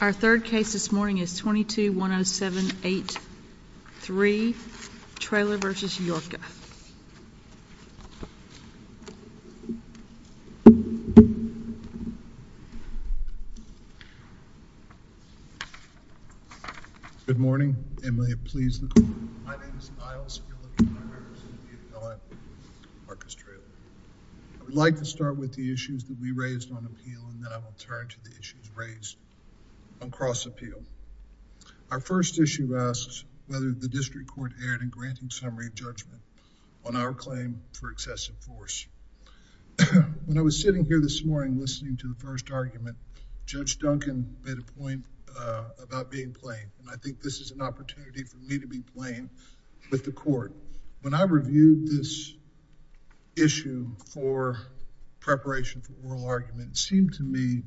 Our third case this morning is 22-107-8-3, Traylor v. Yorka. Good morning, and may it please the Court. My name is Miles, and you're looking at my reference to the appellant, Marcus Traylor. I would like to start with the issues that we raised on appeal, and then I will turn to the issues raised on cross-appeal. Our first issue asks whether the District Court erred in granting summary judgment on our claim for excessive force. When I was sitting here this morning listening to the first argument, Judge Duncan made a point about being plain, and I think this is an opportunity for me to be plain with the Court. When I reviewed this issue for preparation for oral argument, it seemed to me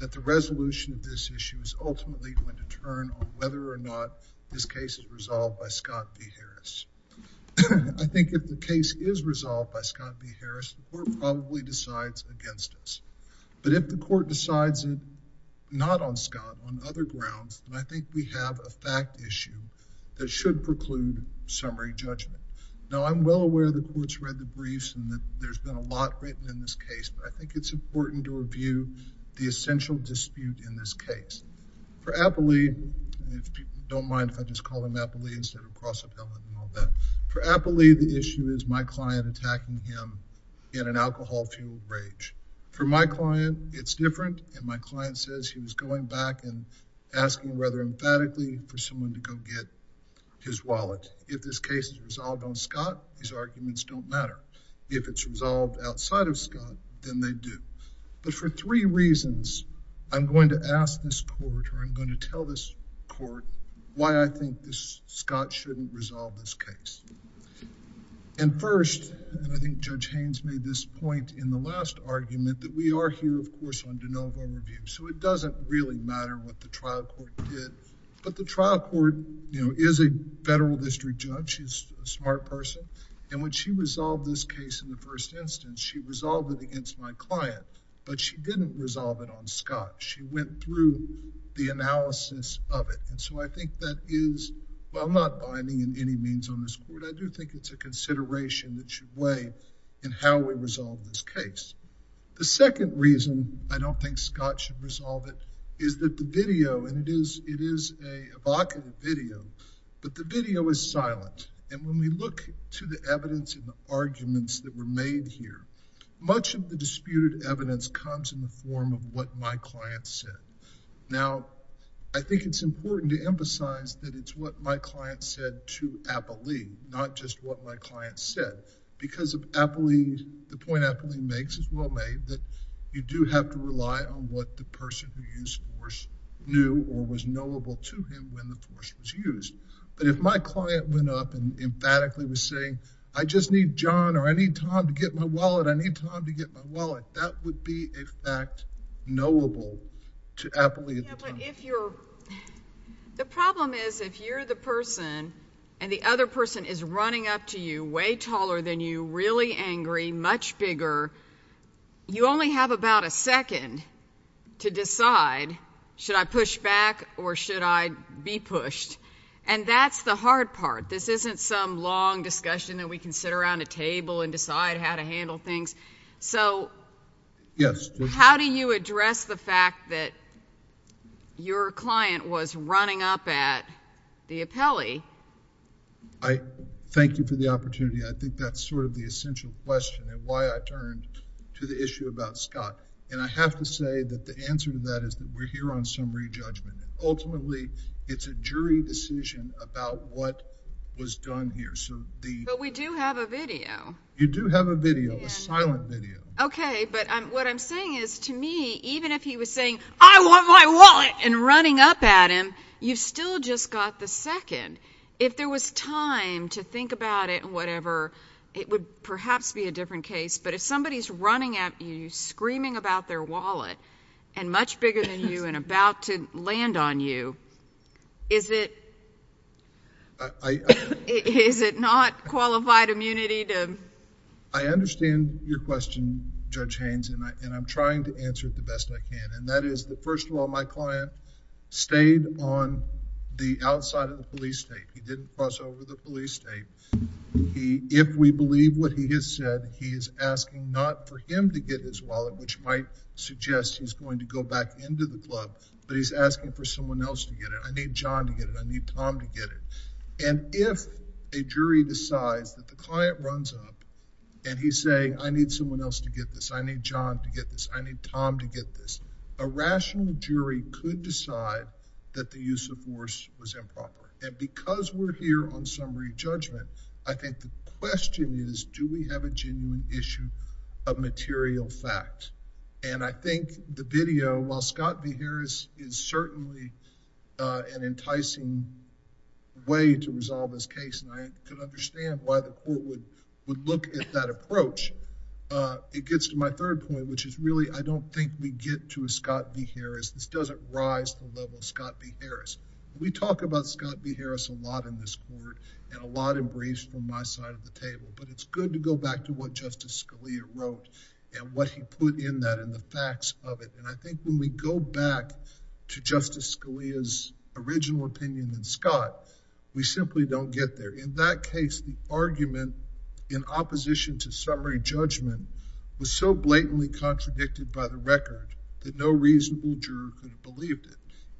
that the resolution of this issue is ultimately going to turn on whether or not this case is resolved by Scott v. Harris. I think if the case is resolved by Scott v. Harris, the Court probably decides against us. But if the Court decides not on Scott, on other grounds, then I think we have a fact issue that should preclude summary judgment. Now, I'm well aware the Court's read the briefs and that there's been a lot written in this case, but I think it's important to review the essential dispute in this case. For Appley, and if people don't mind if I just call him Appley instead of cross-appellant and all that, for Appley, the issue is my client attacking him in an alcohol-fueled rage. For my client, it's different, and my client says he was going back and asking rather emphatically for someone to go get his wallet. If this case is resolved on Scott, his arguments don't matter. If it's resolved outside of Scott, then they do. But for three reasons, I'm going to ask this Court or I'm going to tell this Court why I think Scott shouldn't resolve this case. And first, and I think Judge Haynes made this point in the last argument, that we are here, of course, on de novo review. So it doesn't really matter what the trial court did. But the trial court, you know, is a federal district judge. She's a smart person. And when she resolved this case in the first instance, she resolved it against my client. But she didn't resolve it on Scott. She went through the analysis of it. And so I think that is, well, I'm not binding in any means on this Court. I do think it's a consideration that should weigh in how we resolve this case. The second reason I don't think Scott should resolve it is that the video, and it is an evocative video, but the video is silent. And when we look to the evidence and the arguments that were made here, much of the disputed evidence comes in the form of what my client said. Now, I think it's important to emphasize that it's what my client said to Apolline, not just what my client said. Because of Apolline, the point Apolline makes is well made, that you do have to rely on what the person who used force knew or was knowable to him when the force was used. But if my client went up and emphatically was saying, I just need John or I need Tom to get my wallet, I need Tom to get my wallet, that would be a fact knowable to Apolline at the time. The problem is if you're the person and the other person is running up to you way taller than you, really angry, much bigger, you only have about a second to decide, should I push back or should I be pushed? And that's the hard part. This isn't some long discussion that we can sit around a table and decide how to handle things. So how do you address the fact that your client was running up at the appellee? I thank you for the opportunity. I think that's sort of the essential question and why I turned to the issue about Scott. And I have to say that the answer to that is that we're here on summary judgment. Ultimately, it's a jury decision about what was done here. But we do have a video. You do have a video, a silent video. Okay. But what I'm saying is to me, even if he was saying, I want my wallet and running up at him, you still just got the second. If there was time to think about it and whatever, it would perhaps be a different case. But if somebody's running at you, screaming about their wallet and much bigger than you and about to land on you, is it... I... Is it not qualified immunity to... I understand your question, Judge Haynes, and I'm trying to answer it the best I can. And that is that first of all, my client stayed on the outside of the police state. He didn't cross over the police state. If we believe what he has said, he is asking not for him to get his wallet, which might suggest he's going to go back into the club. But, he's asking for someone else to get it. I need John to get it. I need Tom to get it. And if a jury decides that the client runs up and he's saying, I need someone else to get this. I need John to get this. I need Tom to get this. A rational jury could decide that the use of force was improper. And because we're here on summary judgment, I think the question is, do we have a genuine issue of material fact? And I think the video, while Scott v. Harris is certainly an enticing way to resolve this case, and I could understand why the court would look at that approach. It gets to my third point, which is really, I don't think we get to a Scott v. Harris. This doesn't rise to the level of Scott v. Harris. We talk about Scott v. Harris a lot in this court and a lot in briefs from my side of the table. But, it's good to go back to what Justice Scalia wrote and what he put in that and the facts of it. And I think when we go back to Justice Scalia's original opinion and Scott, we simply don't get there. In that case, the argument in opposition to summary judgment was so blatantly contradicted by the record that no reasonable juror could have believed it.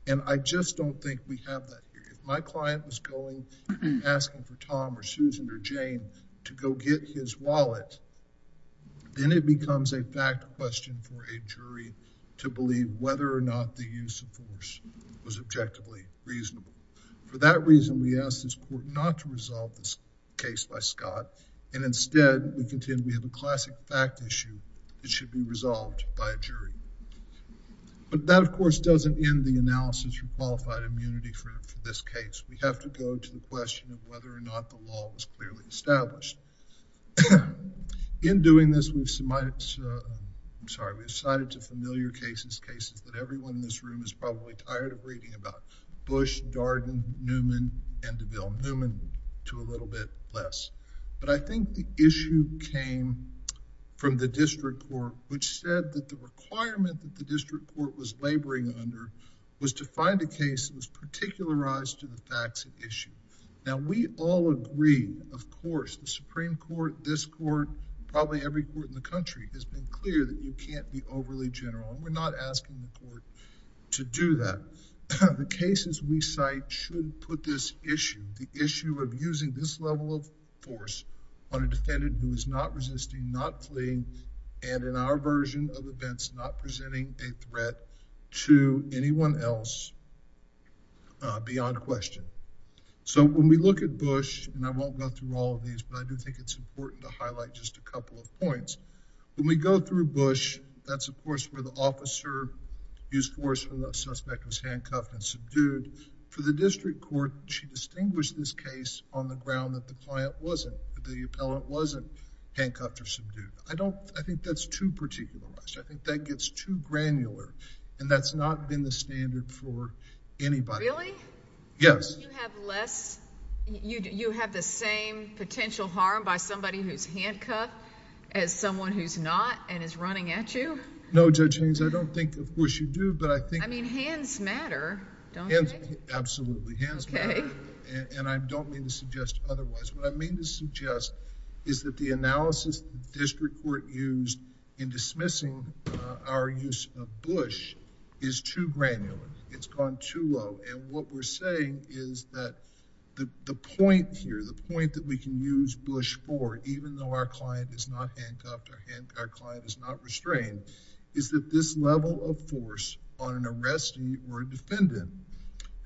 And I just don't think we have that here. If my client was going and asking for Tom or Susan or Jane to go get his wallet, then it becomes a fact question for a jury to believe whether or not the use of force was objectively reasonable. For that reason, we ask this court not to resolve this case by Scott. And instead, we contend we have a classic fact issue that should be resolved by a jury. But that, of course, doesn't end the analysis of qualified immunity for this case. We have to go to the question of whether or not the law was clearly established. In doing this, we've submitted, I'm sorry, we've cited to familiar cases, cases that everyone in this room is probably tired of reading about. Bush, Darden, Newman, and DeVille. Newman to a little bit less. But I think the issue came from the district court, which said that the requirement that the district court was laboring under was to find a case that was particularized to the facts of the issue. Now, we all agree, of course, the Supreme Court, this court, probably every court in the country has been clear that you can't be overly general. And we're not asking the court to do that. The cases we cite should put this issue, the issue of using this level of force on a defendant who is not resisting, not fleeing, and in our version of events, not presenting a threat to anyone else beyond question. So, when we look at Bush, and I won't go through all of these, but I do think it's important to highlight just a couple of points. When we go through Bush, that's, of course, where the officer used force when the suspect was handcuffed and subdued. For the district court, she distinguished this case on the ground that the client wasn't, that the appellant wasn't handcuffed or subdued. I think that's too particularized. I think that gets too granular, and that's not been the standard for anybody. Really? Yes. Don't you have less... you have the same potential harm by somebody who's handcuffed as someone who's not and is running at you? No, Judge Haynes. I don't think... of course, you do, but I think... I mean, hands matter, don't they? Absolutely. Hands matter. Okay. And I don't mean to suggest otherwise. What I mean to suggest is that the analysis the district court used in dismissing our use of Bush is too granular. It's gone too low, and what we're saying is that the point here, the point that we can use Bush for, even though our client is not handcuffed, our client is not restrained, is that this level of force on an arrestee or a defendant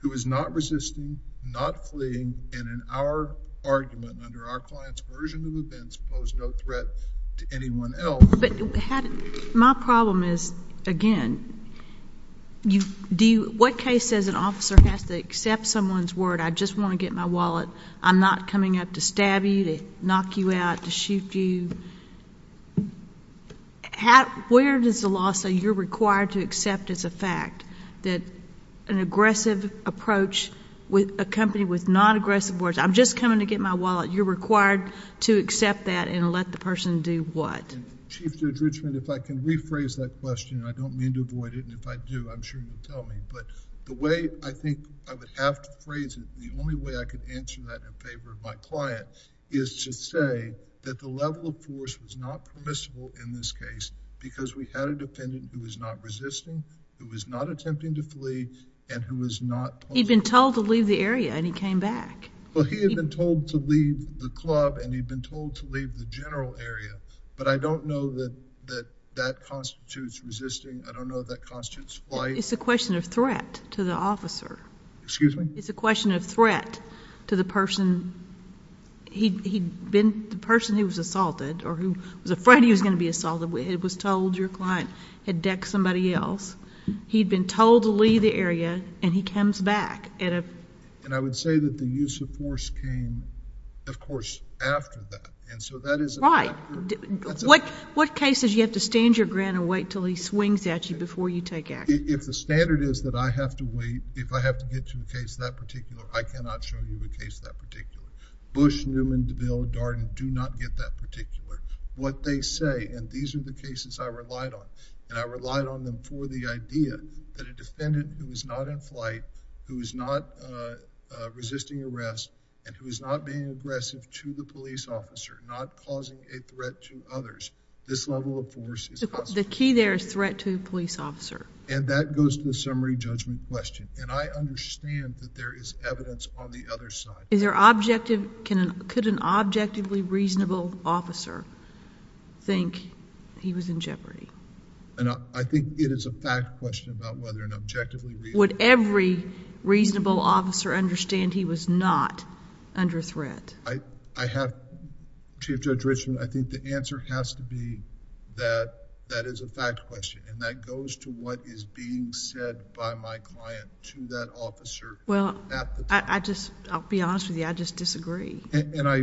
who is not resisting, not fleeing, and in our argument, under our client's version of events, posed no threat to anyone else... What case says an officer has to accept someone's word, I just want to get my wallet, I'm not coming up to stab you, to knock you out, to shoot you? Where does the law say you're required to accept as a fact that an aggressive approach with a company with non-aggressive words, I'm just coming to get my wallet, you're required to accept that and let the person do what? Chief Judge Richmond, if I can rephrase that question, I don't mean to avoid it, and if I do, I'm sure you'll tell me, but the way I think I would have to phrase it, the only way I could answer that in favor of my client is to say that the level of force was not permissible in this case because we had a defendant who was not resisting, who was not attempting to flee, and who was not... He'd been told to leave the area and he came back. Well, he had been told to leave the club and he'd been told to leave the general area, but I don't know that that constitutes resisting, I don't know if that constitutes flight. It's a question of threat to the officer. Excuse me? It's a question of threat to the person... he'd been... the person who was assaulted, or who was afraid he was going to be assaulted, was told your client had decked somebody else, he'd been told to leave the area and he comes back. And I would say that the use of force came, of course, after that, and so that is... Right. What case is you have to stand your ground and wait until he swings at you before you take action? If the standard is that I have to wait, if I have to get to a case that particular, I cannot show you a case that particular. Bush, Newman, DeVille, Darden do not get that particular. What they say, and these are the cases I relied on, and I relied on them for the idea that a defendant who is not in flight, who is not resisting arrest, and who is not being aggressive to the police officer, not causing a threat to others, this level of force is... The key there is threat to the police officer. And that goes to the summary judgment question, and I understand that there is evidence on the other side. Is there objective... could an objectively reasonable officer think he was in jeopardy? I think it is a fact question about whether an objectively... Would every reasonable officer understand he was not under threat? I have... Chief Judge Richmond, I think the answer has to be that that is a fact question, and that goes to what is being said by my client to that officer at the time. I just... I'll be honest with you, I just disagree. And I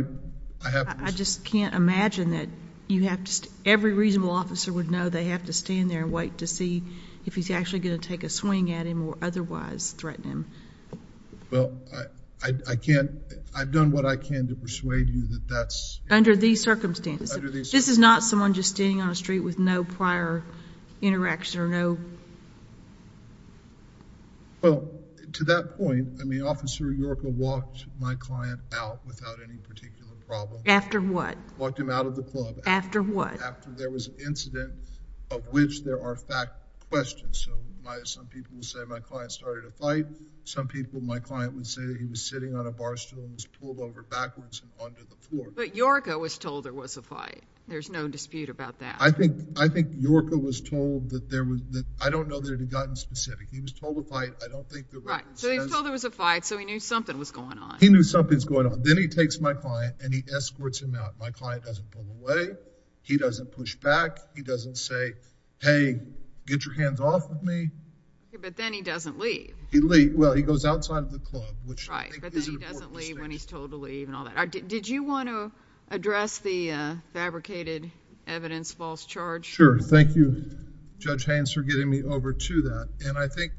have... I just can't imagine that you have to... every reasonable officer would know they have to stand there and wait to see if he's actually going to take a swing at him or otherwise threaten him. Well, I can't... I've done what I can to persuade you that that's... Under these circumstances. Under these circumstances. This is not someone just standing on a street with no prior interaction or no... Well, to that point, I mean, Officer Yorka walked my client out without any particular problem. After what? Walked him out of the club. After what? After there was an incident of which there are fact questions. So, some people would say my client started a fight. Some people, my client would say he was sitting on a bar stool and was pulled over backwards and onto the floor. But Yorka was told there was a fight. There's no dispute about that. I think Yorka was told that there was... I don't know that it had gotten specific. He was told there was a fight. I don't think the record says... Right. So, he was told there was a fight, so he knew something was going on. He knew something was going on. Then he takes my client and he escorts him out. My client doesn't pull away. He doesn't push back. He doesn't say, hey, get your hands off of me. But then he doesn't leave. He leaves. Well, he goes outside of the club, which I think is a report mistake. Right. But then he doesn't leave when he's told to leave and all that. Did you want to address the fabricated evidence false charge? Sure. Thank you, Judge Haynes, for getting me over to that. And I think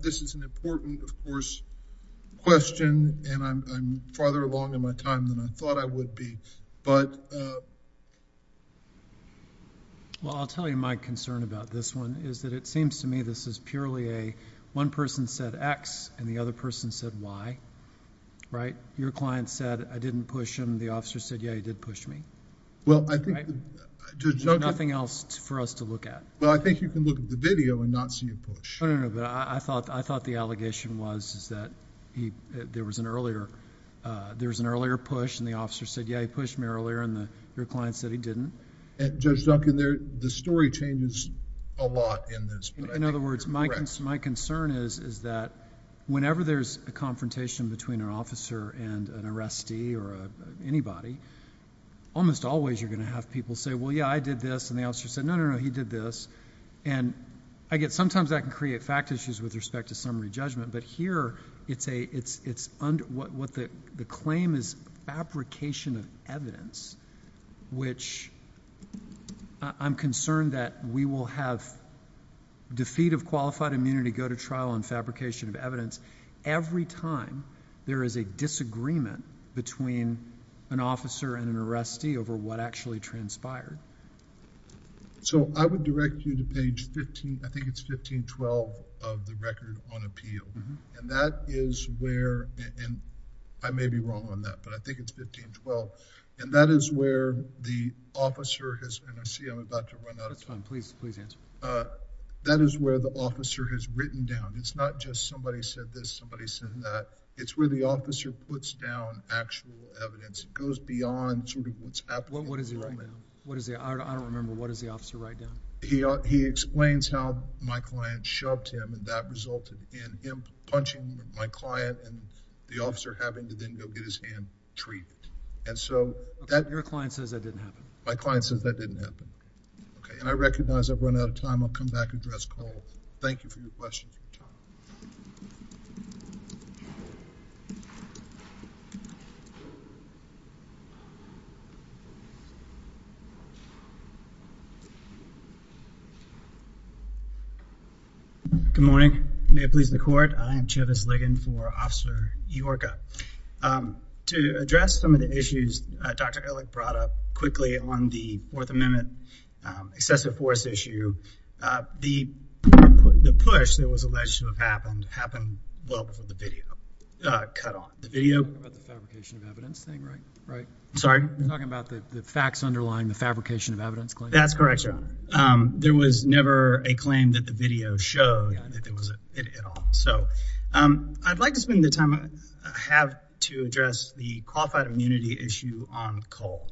this is an important, of course, question, and I'm farther along in my time than I thought I would be. But... Well, I'll tell you my concern about this one is that it seems to me this is purely a one person said X and the other person said Y. Right? Your client said, I didn't push him. The officer said, yeah, you did push me. Well, I think... Right? There's nothing else for us to look at. Well, I think you can look at the video and not see a push. No, no, no. But I thought the allegation was that there was an earlier push and the officer said, yeah, he pushed me earlier. And your client said he didn't. Judge Duncan, the story changes a lot in this. But I think you're correct. In other words, my concern is that whenever there's a confrontation between an officer and an arrestee or anybody, almost always you're going to have people say, well, yeah, I did this. And the officer said, no, no, no, he did this. And I guess sometimes that can create fact issues with respect to summary judgment. But here it's a... what the claim is fabrication of evidence, which I'm concerned that we will have defeat of qualified immunity, go to trial on fabrication of evidence. Every time there is a disagreement between an officer and an arrestee over what actually transpired. So I would direct you to page 15, I think it's 1512 of the record on appeal. And that is where... and I may be wrong on that, but I think it's 1512. And that is where the officer has... and I see I'm about to run out of time. That's fine. Please answer. That is where the officer has written down. It's not just somebody said this, somebody said that. It's where the officer puts down actual evidence. It goes beyond what's happening in the moment. What does he write down? I don't remember. What does the officer write down? He explains how my client shoved him and that resulted in him punching my client and the officer having to then go get his hand treated. And so... Your client says that didn't happen. My client says that didn't happen. Okay. And I recognize I've run out of time. I'll come back and address Cole. Thank you for your question. Good morning. May it please the Court. I am Chavis Ligon for Officer Eorka. To address some of the issues Dr. Ehrlich brought up quickly on the Fourth Amendment excessive force issue, the push that was alleged to have happened, happened well before the video cut off. The video... The fabrication of evidence thing, right? Right. Sorry? You're talking about the facts underlying the fabrication of evidence claim? That's correct, sir. There was never a claim that the video showed that there was a... at all. So, I'd like to spend the time I have to address the qualified immunity issue on Cole.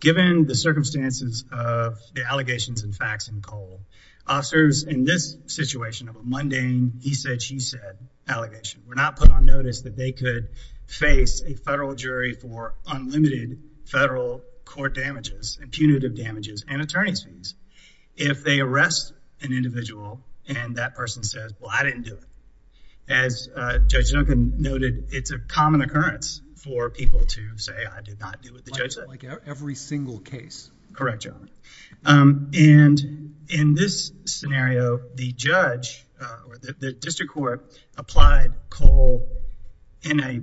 Given the circumstances of the allegations and facts in Cole, officers in this situation of a mundane he said, she said allegation were not put on notice that they could face a federal jury for unlimited federal court damages, impunitive damages, and attorney's fees. If they arrest an individual and that person says, well, I didn't do it, as Judge Duncan noted, it's a common occurrence for people to say, I did not do what the judge said. Like every single case. Correct, Your Honor. And in this scenario, the judge or the district court applied Cole in a, I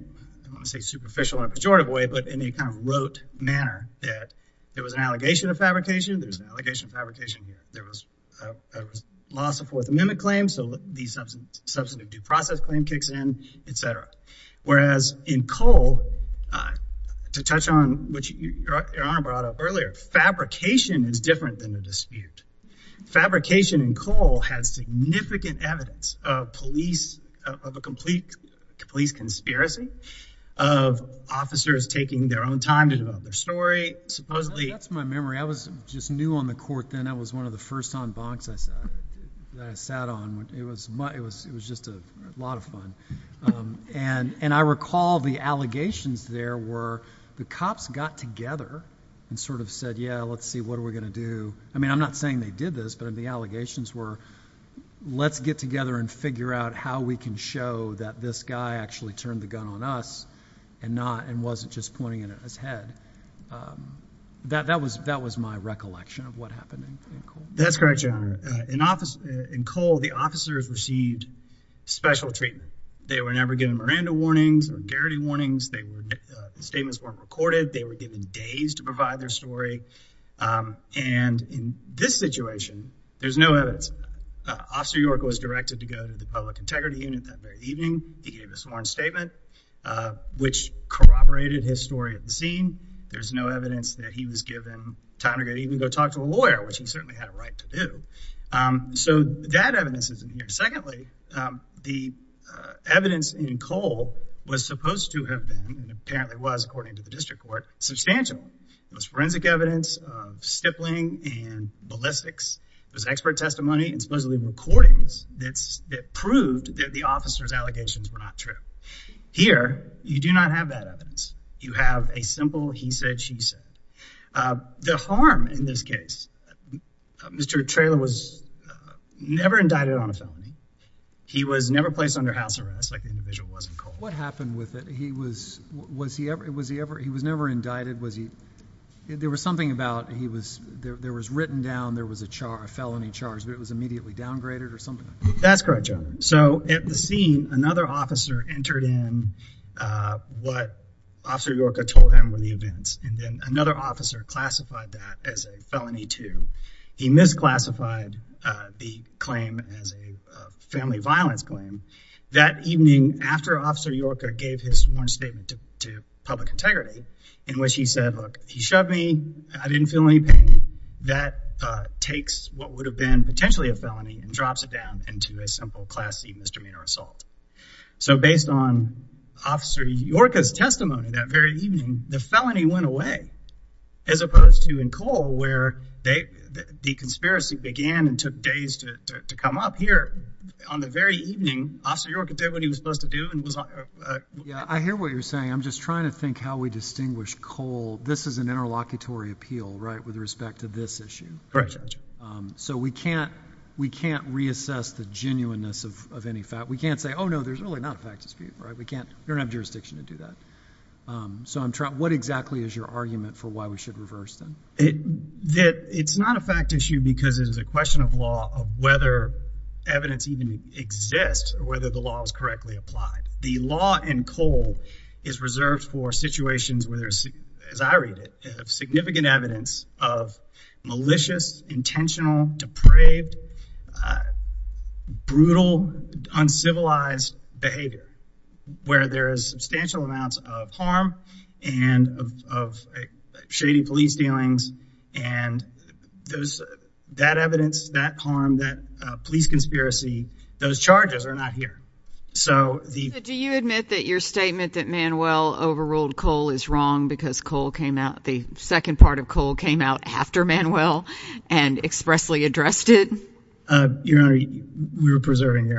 don't want to say superficial or pejorative way, but in a kind of rote manner that there was an allegation of fabrication, there was an allegation of fabrication, there was a loss of Fourth Amendment claims, so the substantive due process claim kicks in, et cetera. Whereas in Cole, to touch on what Your Honor brought up earlier, fabrication is different than the dispute. Fabrication in Cole has significant evidence of police, of a complete police conspiracy, of officers taking their own time to develop their story, supposedly. That's my memory. I was just new on the court then. I was one of the first on bonks I sat on. It was just a lot of fun. And I recall the allegations there were the cops got together and sort of said, yeah, let's see, what are we going to do? I mean, I'm not saying they did this, but the allegations were let's get together and figure out how we can show that this guy actually turned the gun on us and wasn't just pointing it at his head. That was my recollection of what happened in Cole. That's correct, Your Honor. In Cole, the officers received special treatment. They were never given Miranda warnings or Garrity warnings. The statements weren't recorded. They were given days to provide their story. And in this situation, there's no evidence. Officer York was directed to go to the Public Integrity Unit that very evening. He gave a sworn statement, which corroborated his story at the scene. There's no evidence that he was given time to even go talk to a lawyer, which he certainly had a right to do. So that evidence isn't here. Secondly, the evidence in Cole was supposed to have been, and apparently was according to the district court, substantial. It was forensic evidence of stippling and ballistics. It was expert testimony and supposedly recordings that proved that the officers' allegations were not true. Here, you do not have that evidence. You have a simple he said, she said. The harm in this case, Mr. Traylor was never indicted on a felony. He was never placed under house arrest like the individual was in Cole. What happened with it? He was never indicted. There was something about there was written down there was a felony charge, but it was immediately downgraded or something like that. That's correct, Your Honor. So at the scene, another officer entered in what Officer York had told him were the events, and then another officer classified that as a felony too. He misclassified the claim as a family violence claim. That evening, after Officer York gave his sworn statement to public integrity, in which he said, look, he shoved me, I didn't feel any pain, that takes what would have been potentially a felony and drops it down into a simple Class C misdemeanor assault. So based on Officer York's testimony that very evening, the felony went away as opposed to in Cole where the conspiracy began and took days to come up. Here on the very evening, Officer York did what he was supposed to do. I hear what you're saying. I'm just trying to think how we distinguish Cole. This is an interlocutory appeal, right, with respect to this issue. Correct, Judge. So we can't reassess the genuineness of any fact. We can't say, oh, no, there's really not a fact dispute. We don't have jurisdiction to do that. So what exactly is your argument for why we should reverse them? It's not a fact issue because it is a question of law, of whether evidence even exists or whether the law is correctly applied. The law in Cole is reserved for situations where there's, as I read it, significant evidence of malicious, intentional, depraved, brutal, uncivilized behavior, where there is substantial amounts of harm and of shady police dealings. And that evidence, that harm, that police conspiracy, those charges are not here. Do you admit that your statement that Manuel overruled Cole is wrong because the second part of Cole came out after Manuel and expressly addressed it? Your Honor, we were preserving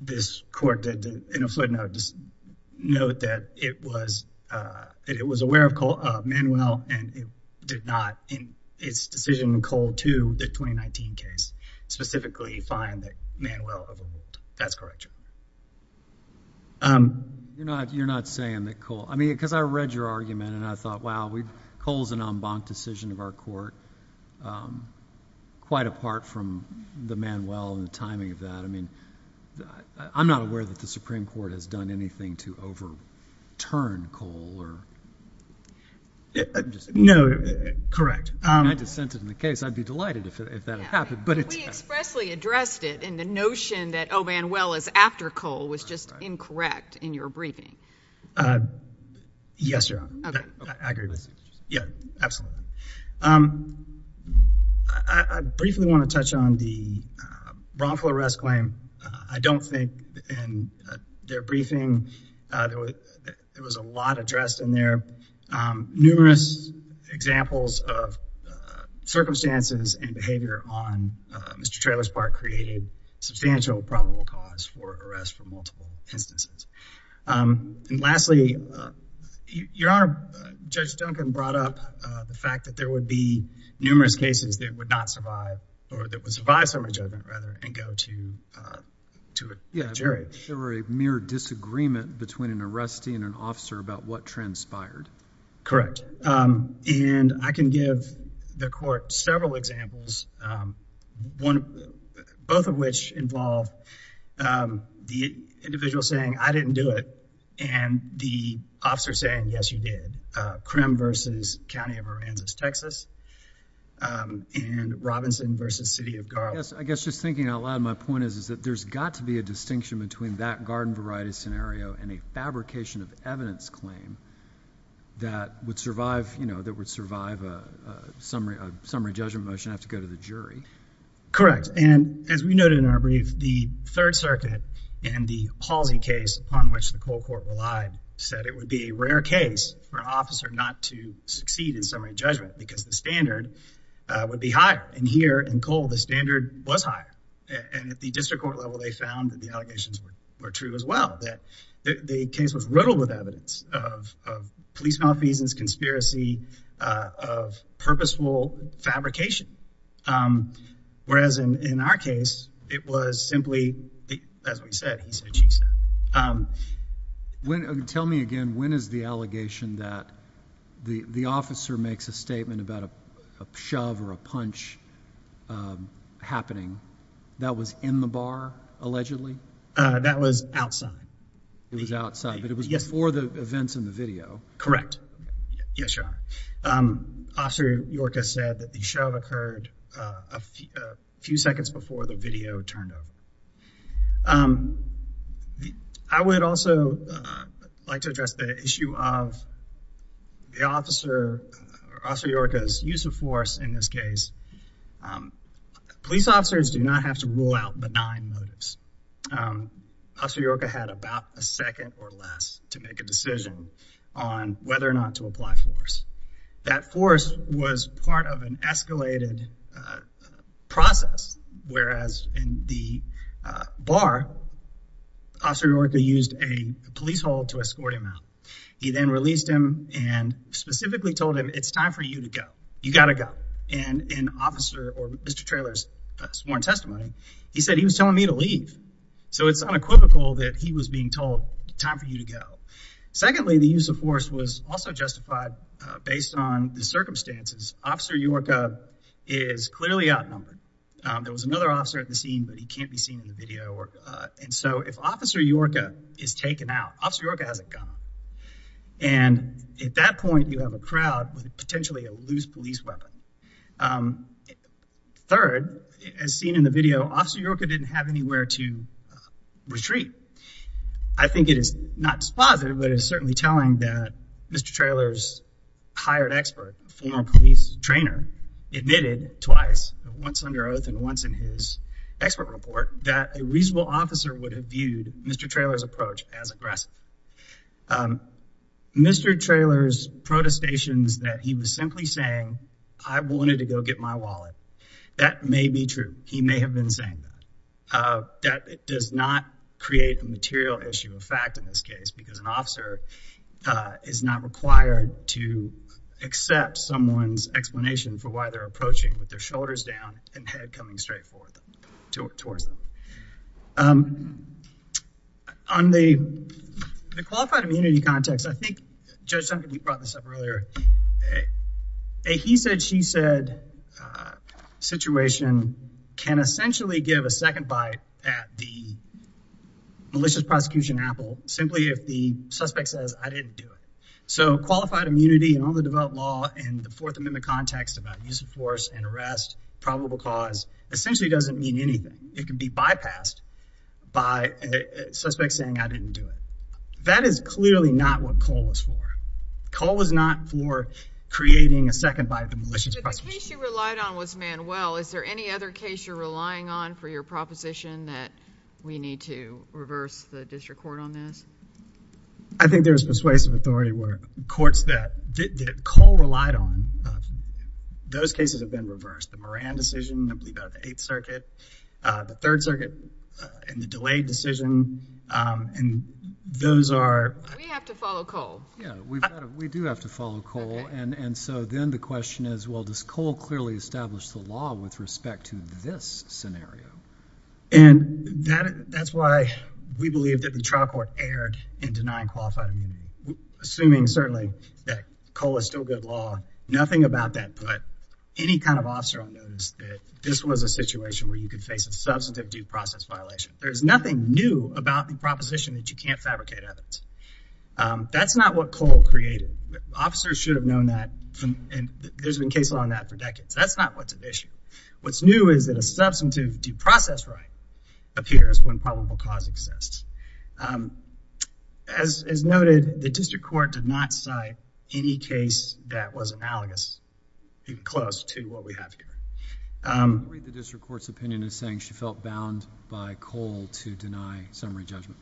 this court in a footnote. Just note that it was aware of Manuel and it did not, in its decision in Cole 2, the 2019 case, specifically find that Manuel overruled Cole. That's correct, Your Honor. You're not saying that Cole... I mean, because I read your argument and I thought, wow, Cole's an en banc decision of our court, quite apart from the Manuel and the timing of that. I mean, I'm not aware that the Supreme Court has done anything to overturn Cole. No, correct. I just sent it in the case. I'd be delighted if that had happened, but it's... We expressly addressed it, and the notion that O. Manuel is after Cole was just incorrect in your briefing. Yes, Your Honor. Okay. I agree with you. Yeah, absolutely. I briefly want to touch on the wrongful arrest claim. I don't think in their briefing there was a lot addressed in there. Numerous examples of circumstances and behavior on Mr. Traylor's part created substantial probable cause for arrest for multiple instances. And lastly, Your Honor, Judge Duncan brought up the fact that there would be numerous cases that would not survive, or that would survive summary judgment, rather, and go to a jury. Yeah, there were a mere disagreement between an arrestee and an officer about what transpired. Correct. And I can give the court several examples, both of which involve the individual saying, I didn't do it, and the officer saying, Yes, you did. Crim versus County of Aransas, Texas, and Robinson versus City of Garland. I guess just thinking out loud, my point is that there's got to be a distinction between that garden variety scenario and a fabrication of evidence claim that would survive a summary judgment motion and have to go to the jury. Correct. And as we noted in our brief, the Third Circuit and the Halsey case, upon which the Cole Court relied, said it would be a rare case for an officer not to succeed in summary judgment because the standard would be higher. And here in Cole, the standard was higher. And at the district court level, they found that the allegations were true as well, that the case was riddled with evidence of police malfeasance, conspiracy of purposeful fabrication. Whereas in our case, it was simply, as we said, he said, she said. Tell me again, when is the allegation that the officer makes a statement about a shove or a punch happening that was in the bar, allegedly? That was outside. Correct. Yes, Your Honor. Officer Yorka said that the shove occurred a few seconds before the video turned up. I would also like to address the issue of the officer, Officer Yorka's use of force in this case. Police officers do not have to rule out benign motives. Officer Yorka had about a second or less to make a decision on whether or not to apply force. That force was part of an escalated process. Whereas in the bar, Officer Yorka used a police hold to escort him out. He then released him and specifically told him it's time for you to go. You got to go. And an officer or Mr. Trailer's sworn testimony, he said he was telling me to leave. So it's unequivocal that he was being told time for you to go. Secondly, the use of force was also justified based on the circumstances. Officer Yorka is clearly outnumbered. There was another officer at the scene, but he can't be seen in the video. And so if Officer Yorka is taken out, Officer Yorka has a gun. And at that point you have a crowd with potentially a loose police weapon. Third, as seen in the video, Officer Yorka didn't have anywhere to retreat. I think it is not dispositive, but it is certainly telling that Mr. Trailer's hired expert, former police trainer, admitted twice, once under oath and once in his expert report, that a reasonable officer would have viewed Mr. Trailer's approach as aggressive. Mr. Trailer's protestations that he was simply saying, I wanted to go get my wallet. That may be true. He may have been saying that. It does not create a material issue of fact in this case, because an officer is not required to accept someone's explanation for why they're approaching with their shoulders down and head coming straight towards them. On the qualified immunity context, I think Judge Duncan, you brought this up earlier. A he said, she said, situation can essentially give a second bite at the malicious prosecution apple, simply if the suspect says, I didn't do it. So qualified immunity and all the developed law and the fourth amendment context about use of force and arrest probable cause essentially doesn't mean anything. It can be bypassed by a suspect saying, I didn't do it. That is clearly not what Cole was for. Cole was not for creating a second bite at the malicious prosecution. But the case you relied on was Manuel. Is there any other case you're relying on for your proposition that we need to reverse the district court on this? I think there's persuasive authority where courts that Cole relied on, those cases have been reversed. The Moran decision, I believe out of the eighth circuit, the third circuit and the delayed decision. And those are, we have to follow Cole. Yeah, we've got, we do have to follow Cole. And so then the question is, well, does Cole clearly establish the law with respect to this scenario? And that, that's why we believe that the trial court erred in denying qualified immunity. Assuming certainly that Cole is still good law. Nothing about that, but any kind of officer on notice that this was a situation where you could face a substantive due process violation. There's nothing new about the proposition that you can't fabricate evidence. That's not what Cole created. Officers should have known that. And there's been cases on that for decades. That's not what's an issue. What's new is that a substantive due process, right? Appears when probable cause exists. As, as noted, the district court did not cite any case that was analogous, close to what we have here. The district court's opinion is saying she felt bound by Cole to deny summary judgment.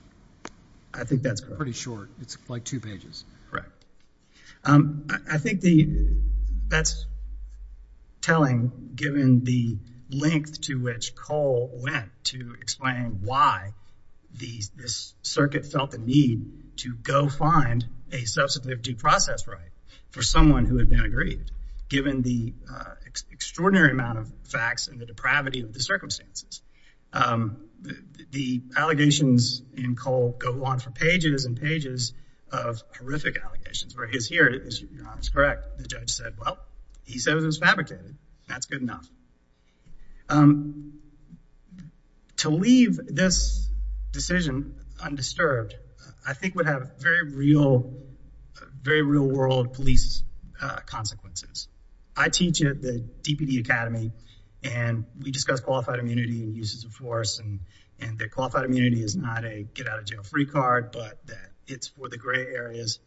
I think that's pretty short. It's like two pages. Correct. I think the, that's telling given the length to which Cole went to explain why these, this circuit felt the need to go find a substantive due process, right? For someone who had been agreed, given the extraordinary amount of facts and the depravity of the circumstances, the allegations in Cole go on for pages and pages of horrific allegations where he is here. It's correct. The judge said, well, he said it was fabricated. That's good enough. To leave this decision undisturbed, I think would have very real, very real world police consequences. I teach at the DPD Academy and we discuss qualified immunity and uses of force. And the qualified immunity is not a get out of jail free card, but that it's for the gray areas.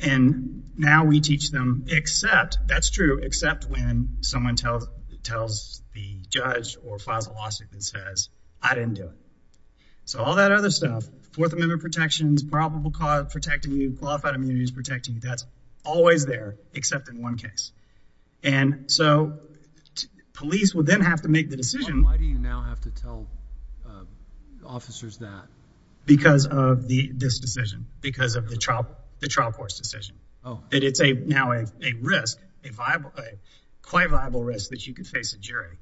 And now we teach them except that's true, except when someone tells, tells the judge or files a lawsuit that says I didn't do it. So all that other stuff, fourth amendment protections, probable cause protecting you, qualified immunity is protecting you. That's always there, except in one case. And so police would then have to make the decision. Why do you now have to tell officers that because of the, this decision, because of the trial, the trial force decision. Oh, it's a, now a risk, a viable, a quite viable risk that you can face a jury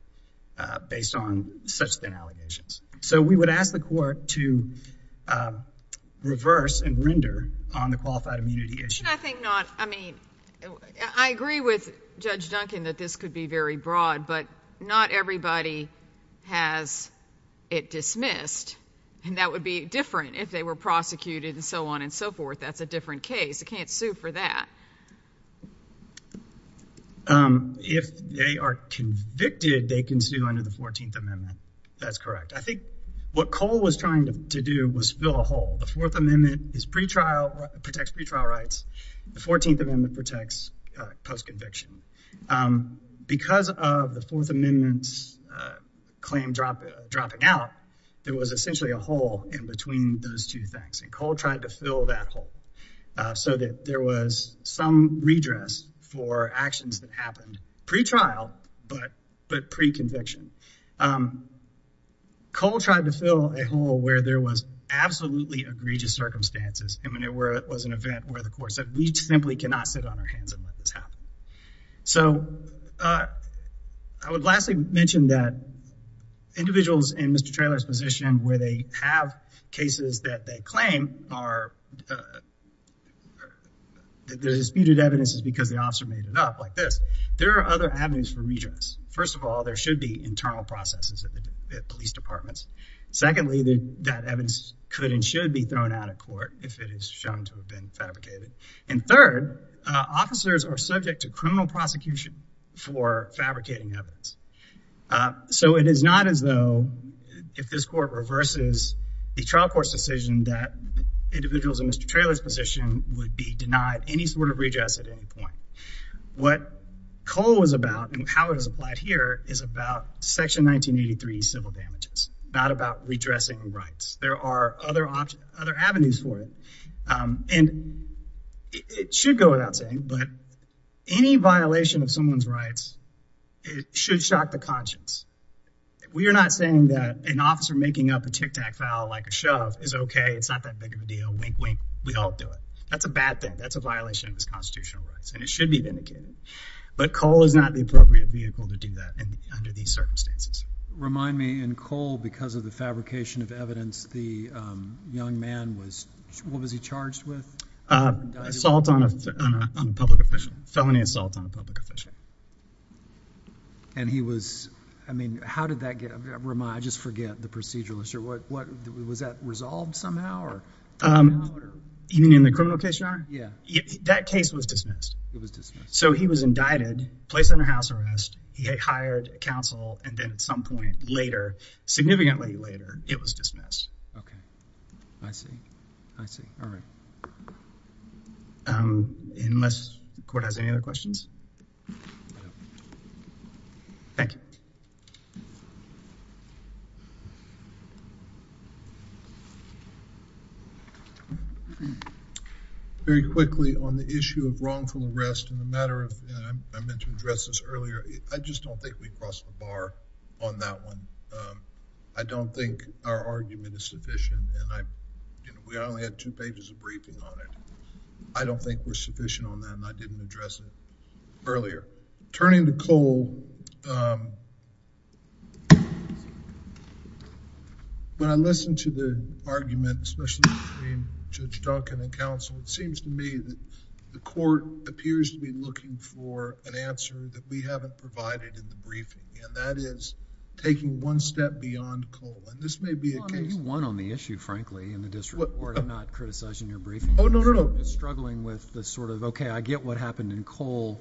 based on such thin allegations. So we would ask the court to reverse and render on the qualified immunity issue. I think not. I mean, I agree with judge Duncan that this could be very broad, but not everybody has it dismissed. And that would be different if they were prosecuted and so on and so forth. That's a different case. I mean, it's a different case. You can't sue for that. If they are convicted, they can sue under the 14th amendment. That's correct. I think what Cole was trying to do was fill a hole. The fourth amendment is pretrial protects pretrial rights. The 14th amendment protects post-conviction. Because of the fourth amendments. Claim drop dropping out. There was essentially a hole in between those two things. And Cole tried to fill that hole. So that there was some redress for actions that happened pretrial, but, but pre-conviction. Cole tried to fill a hole where there was absolutely egregious circumstances. And when it were, it was an event where the court said we simply cannot sit on our hands and let this happen. So I would lastly mention that. Individuals in Mr. Claim are. The disputed evidence is because the officer made it up like this. There are other avenues for redress. First of all, there should be internal processes at the police departments. Secondly, that evidence could and should be thrown out of court if it is shown to have been fabricated. And third officers are subject to criminal prosecution for fabricating evidence. So it is not as though if this court reverses the trial court decision that. Individuals in Mr. Traylor's position would be denied any sort of redress at any point. What Cole was about and how it was applied here is about section 1983, civil damages, not about redressing rights. There are other options, other avenues for it. And. It should go without saying, but any violation of someone's rights. It should shock the conscience. We are not saying that an officer making up a Tic Tac file like a shove is okay. It's not that big of a deal. Wink, wink. We all do it. That's a bad thing. That's a violation of his constitutional rights and it should be vindicated. But Cole is not the appropriate vehicle to do that. And under these circumstances, remind me in Cole, because of the fabrication of evidence, the young man was, what was he charged with? Assault on a public official felony assault on a public official. And he was, I mean, how did that get, I just forget the procedural issue. What, what was that resolved somehow or. Even in the criminal case, your honor. Yeah. That case was dismissed. It was dismissed. So he was indicted, placed under house arrest. He had hired counsel. And then at some point later, significantly later, it was dismissed. Okay. I see. I see. All right. Unless court has any other questions. Thank you. Very quickly on the issue of wrongful arrest and the matter of, and I meant to address this earlier. I just don't think we crossed the bar on that one. I don't think our argument is sufficient. And I, we only had two pages of briefing on it. I don't think we're sufficient on that. And I didn't address it. Earlier. Turning to Cole. When I listened to the argument, especially between Judge Duncan and counsel, it seems to me that the court appears to be looking for an answer that we haven't provided in the briefing. And that is taking one step beyond Cole. And this may be a case. You won on the issue, frankly, in the district court. I'm not criticizing your briefing. Oh, no, no, struggling with the sort of, okay, I get what happened in Cole.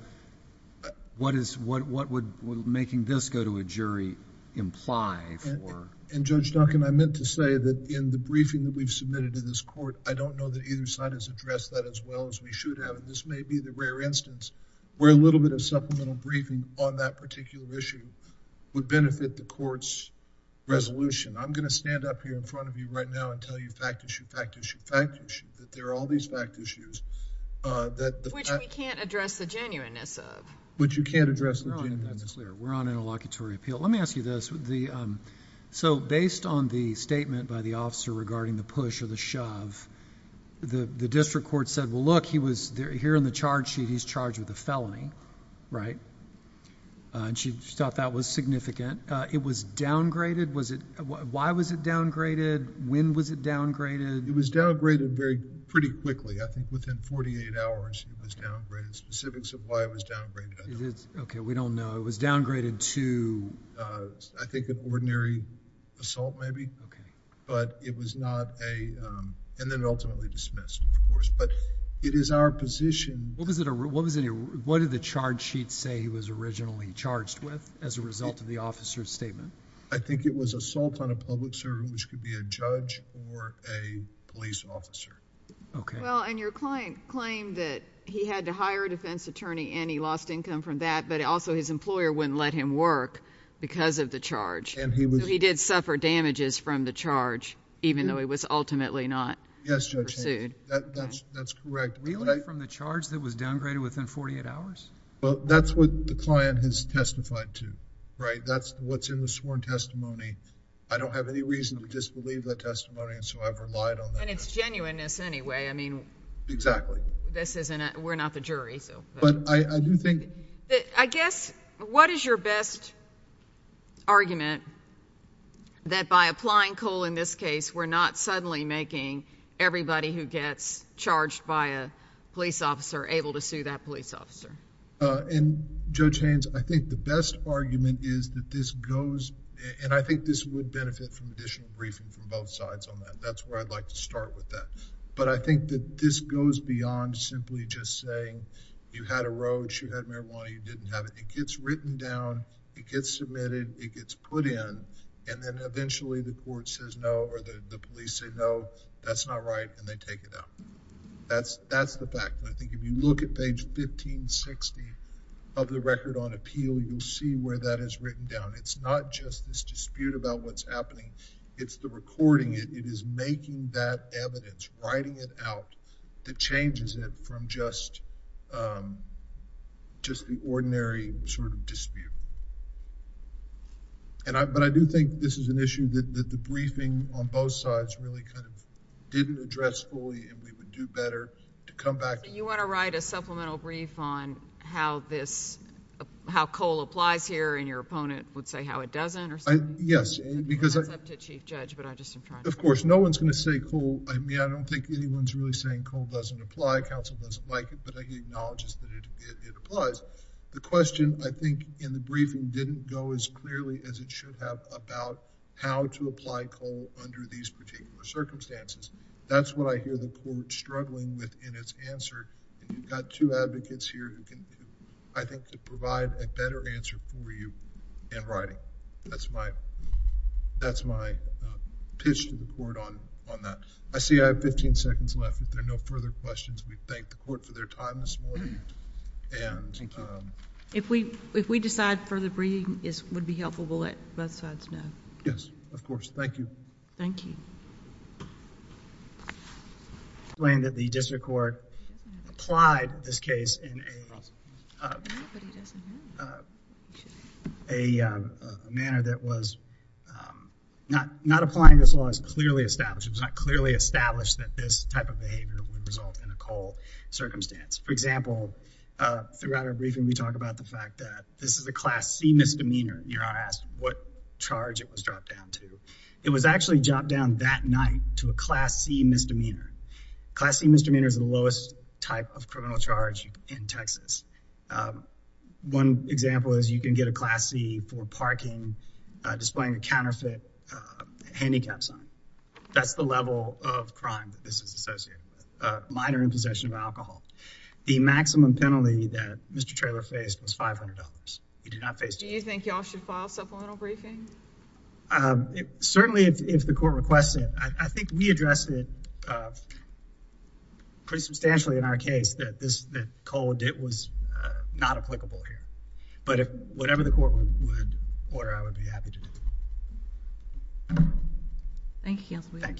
What is, what, what would making this go to a jury imply? And judge Duncan, I meant to say that in the briefing that we've submitted to this court, I don't know that either side has addressed that as well as we should have. And this may be the rare instance where a little bit of supplemental briefing on that particular issue would benefit the courts resolution. I'm going to stand up here in front of you right now and tell you fact, issue, fact, issue, fact, issue, that there are all these fact issues. Which we can't address the genuineness of. Which you can't address the genuineness of. We're on interlocutory appeal. Let me ask you this. So based on the statement by the officer regarding the push or the shove, the district court said, well, look, he was here in the charge sheet. He's charged with a felony, right? And she thought that was significant. It was downgraded. Was it, why was it downgraded? When was it downgraded? It was downgraded pretty quickly. I think within 48 hours it was downgraded. Specifics of why it was downgraded, I don't know. Okay. We don't know. It was downgraded to. I think an ordinary assault, maybe. Okay. But it was not a, and then ultimately dismissed, of course, but it is our position. What was it? What was it? What did the charge sheet say he was originally charged with as a result of the officer's statement? I think it was assault on a public servant, which could be a judge or a police officer. Okay. Well, and your client claimed that he had to hire a defense attorney and he lost income from that, but also his employer wouldn't let him work because of the charge. And he was. He did suffer damages from the charge, even though he was ultimately not. Yes. That's correct. From the charge that was downgraded within 48 hours. Well, that's what the client has testified to, right? That's what's in the sworn testimony. I don't have any reason to disbelieve that testimony. And so I've relied on that. And it's genuineness anyway. I mean, exactly. This isn't, we're not the jury. So, but I do think. I guess what is your best. Argument. That by applying coal in this case, we're not suddenly making everybody who gets charged by a police officer able to sue that police officer. And Joe change. I think the best argument is that this goes. Beyond simply just saying, you had a road, she had marijuana. You didn't have it. It gets written down. It gets submitted. It gets put in. And then eventually the court says no, or the police say, no, that's not right. And they take it out. That's that's the fact. I think if you look at page 15, 60. Of the record on appeal. You'll see where that is written down. It's not just this dispute about what's happening. It's the recording. It is making that evidence. Writing it out. That changes it from just. Just the ordinary sort of dispute. And I, but I do think this is an issue that, that the briefing on both sides really kind of. Comments on both sides. It's a question that we would have to address fully. And we would do better. To come back. You want to write a supplemental brief on how this. How coal applies here in your opponent would say how it doesn't or. Yes, because I. Chief judge, but I just. Of course, no one's going to say. I mean, I don't think anyone's really saying coal doesn't apply. Council doesn't like it, but. It applies. The question I think in the briefing didn't go as clearly as it should have about how to apply coal under these particular circumstances. That's what I hear the court struggling with in its answer. You've got two advocates here. I think to provide a better answer for you. And writing. That's my. That's my. Pitch to the court on, on that. I see. I have 15 seconds left. If there are no further questions, we thank the court for their time. Thank you. If we, if we decide for the briefing is, would be helpful. We'll let both sides know. Yes, of course. Thank you. Thank you. Plain that the district court. Applied this case in a. A manner that was. Not not applying this law is clearly established. It's not clearly established that this type of behavior that would result In a cold circumstance. For example, throughout our briefing, we talk about the fact that this is a class C misdemeanor. You're asked what charge it was dropped down to. It was actually dropped down that night to a class C misdemeanor. Class C misdemeanor is the lowest type of criminal charge in Texas. One example is you can get a class C for parking. Displaying a counterfeit. Handicaps. That's the level of crime. That's the level of crime. That's the level of crime that's associated with this. Minor in possession of alcohol. The maximum penalty that Mr. Traylor faced was $500. He did not face. Do you think y'all should file supplemental briefing? Certainly if the court requests it, I think we addressed it. Pretty substantially in our case that this. Cold. It was. Not applicable here. But if whatever the court would. Order, I would be happy to do. Thank you.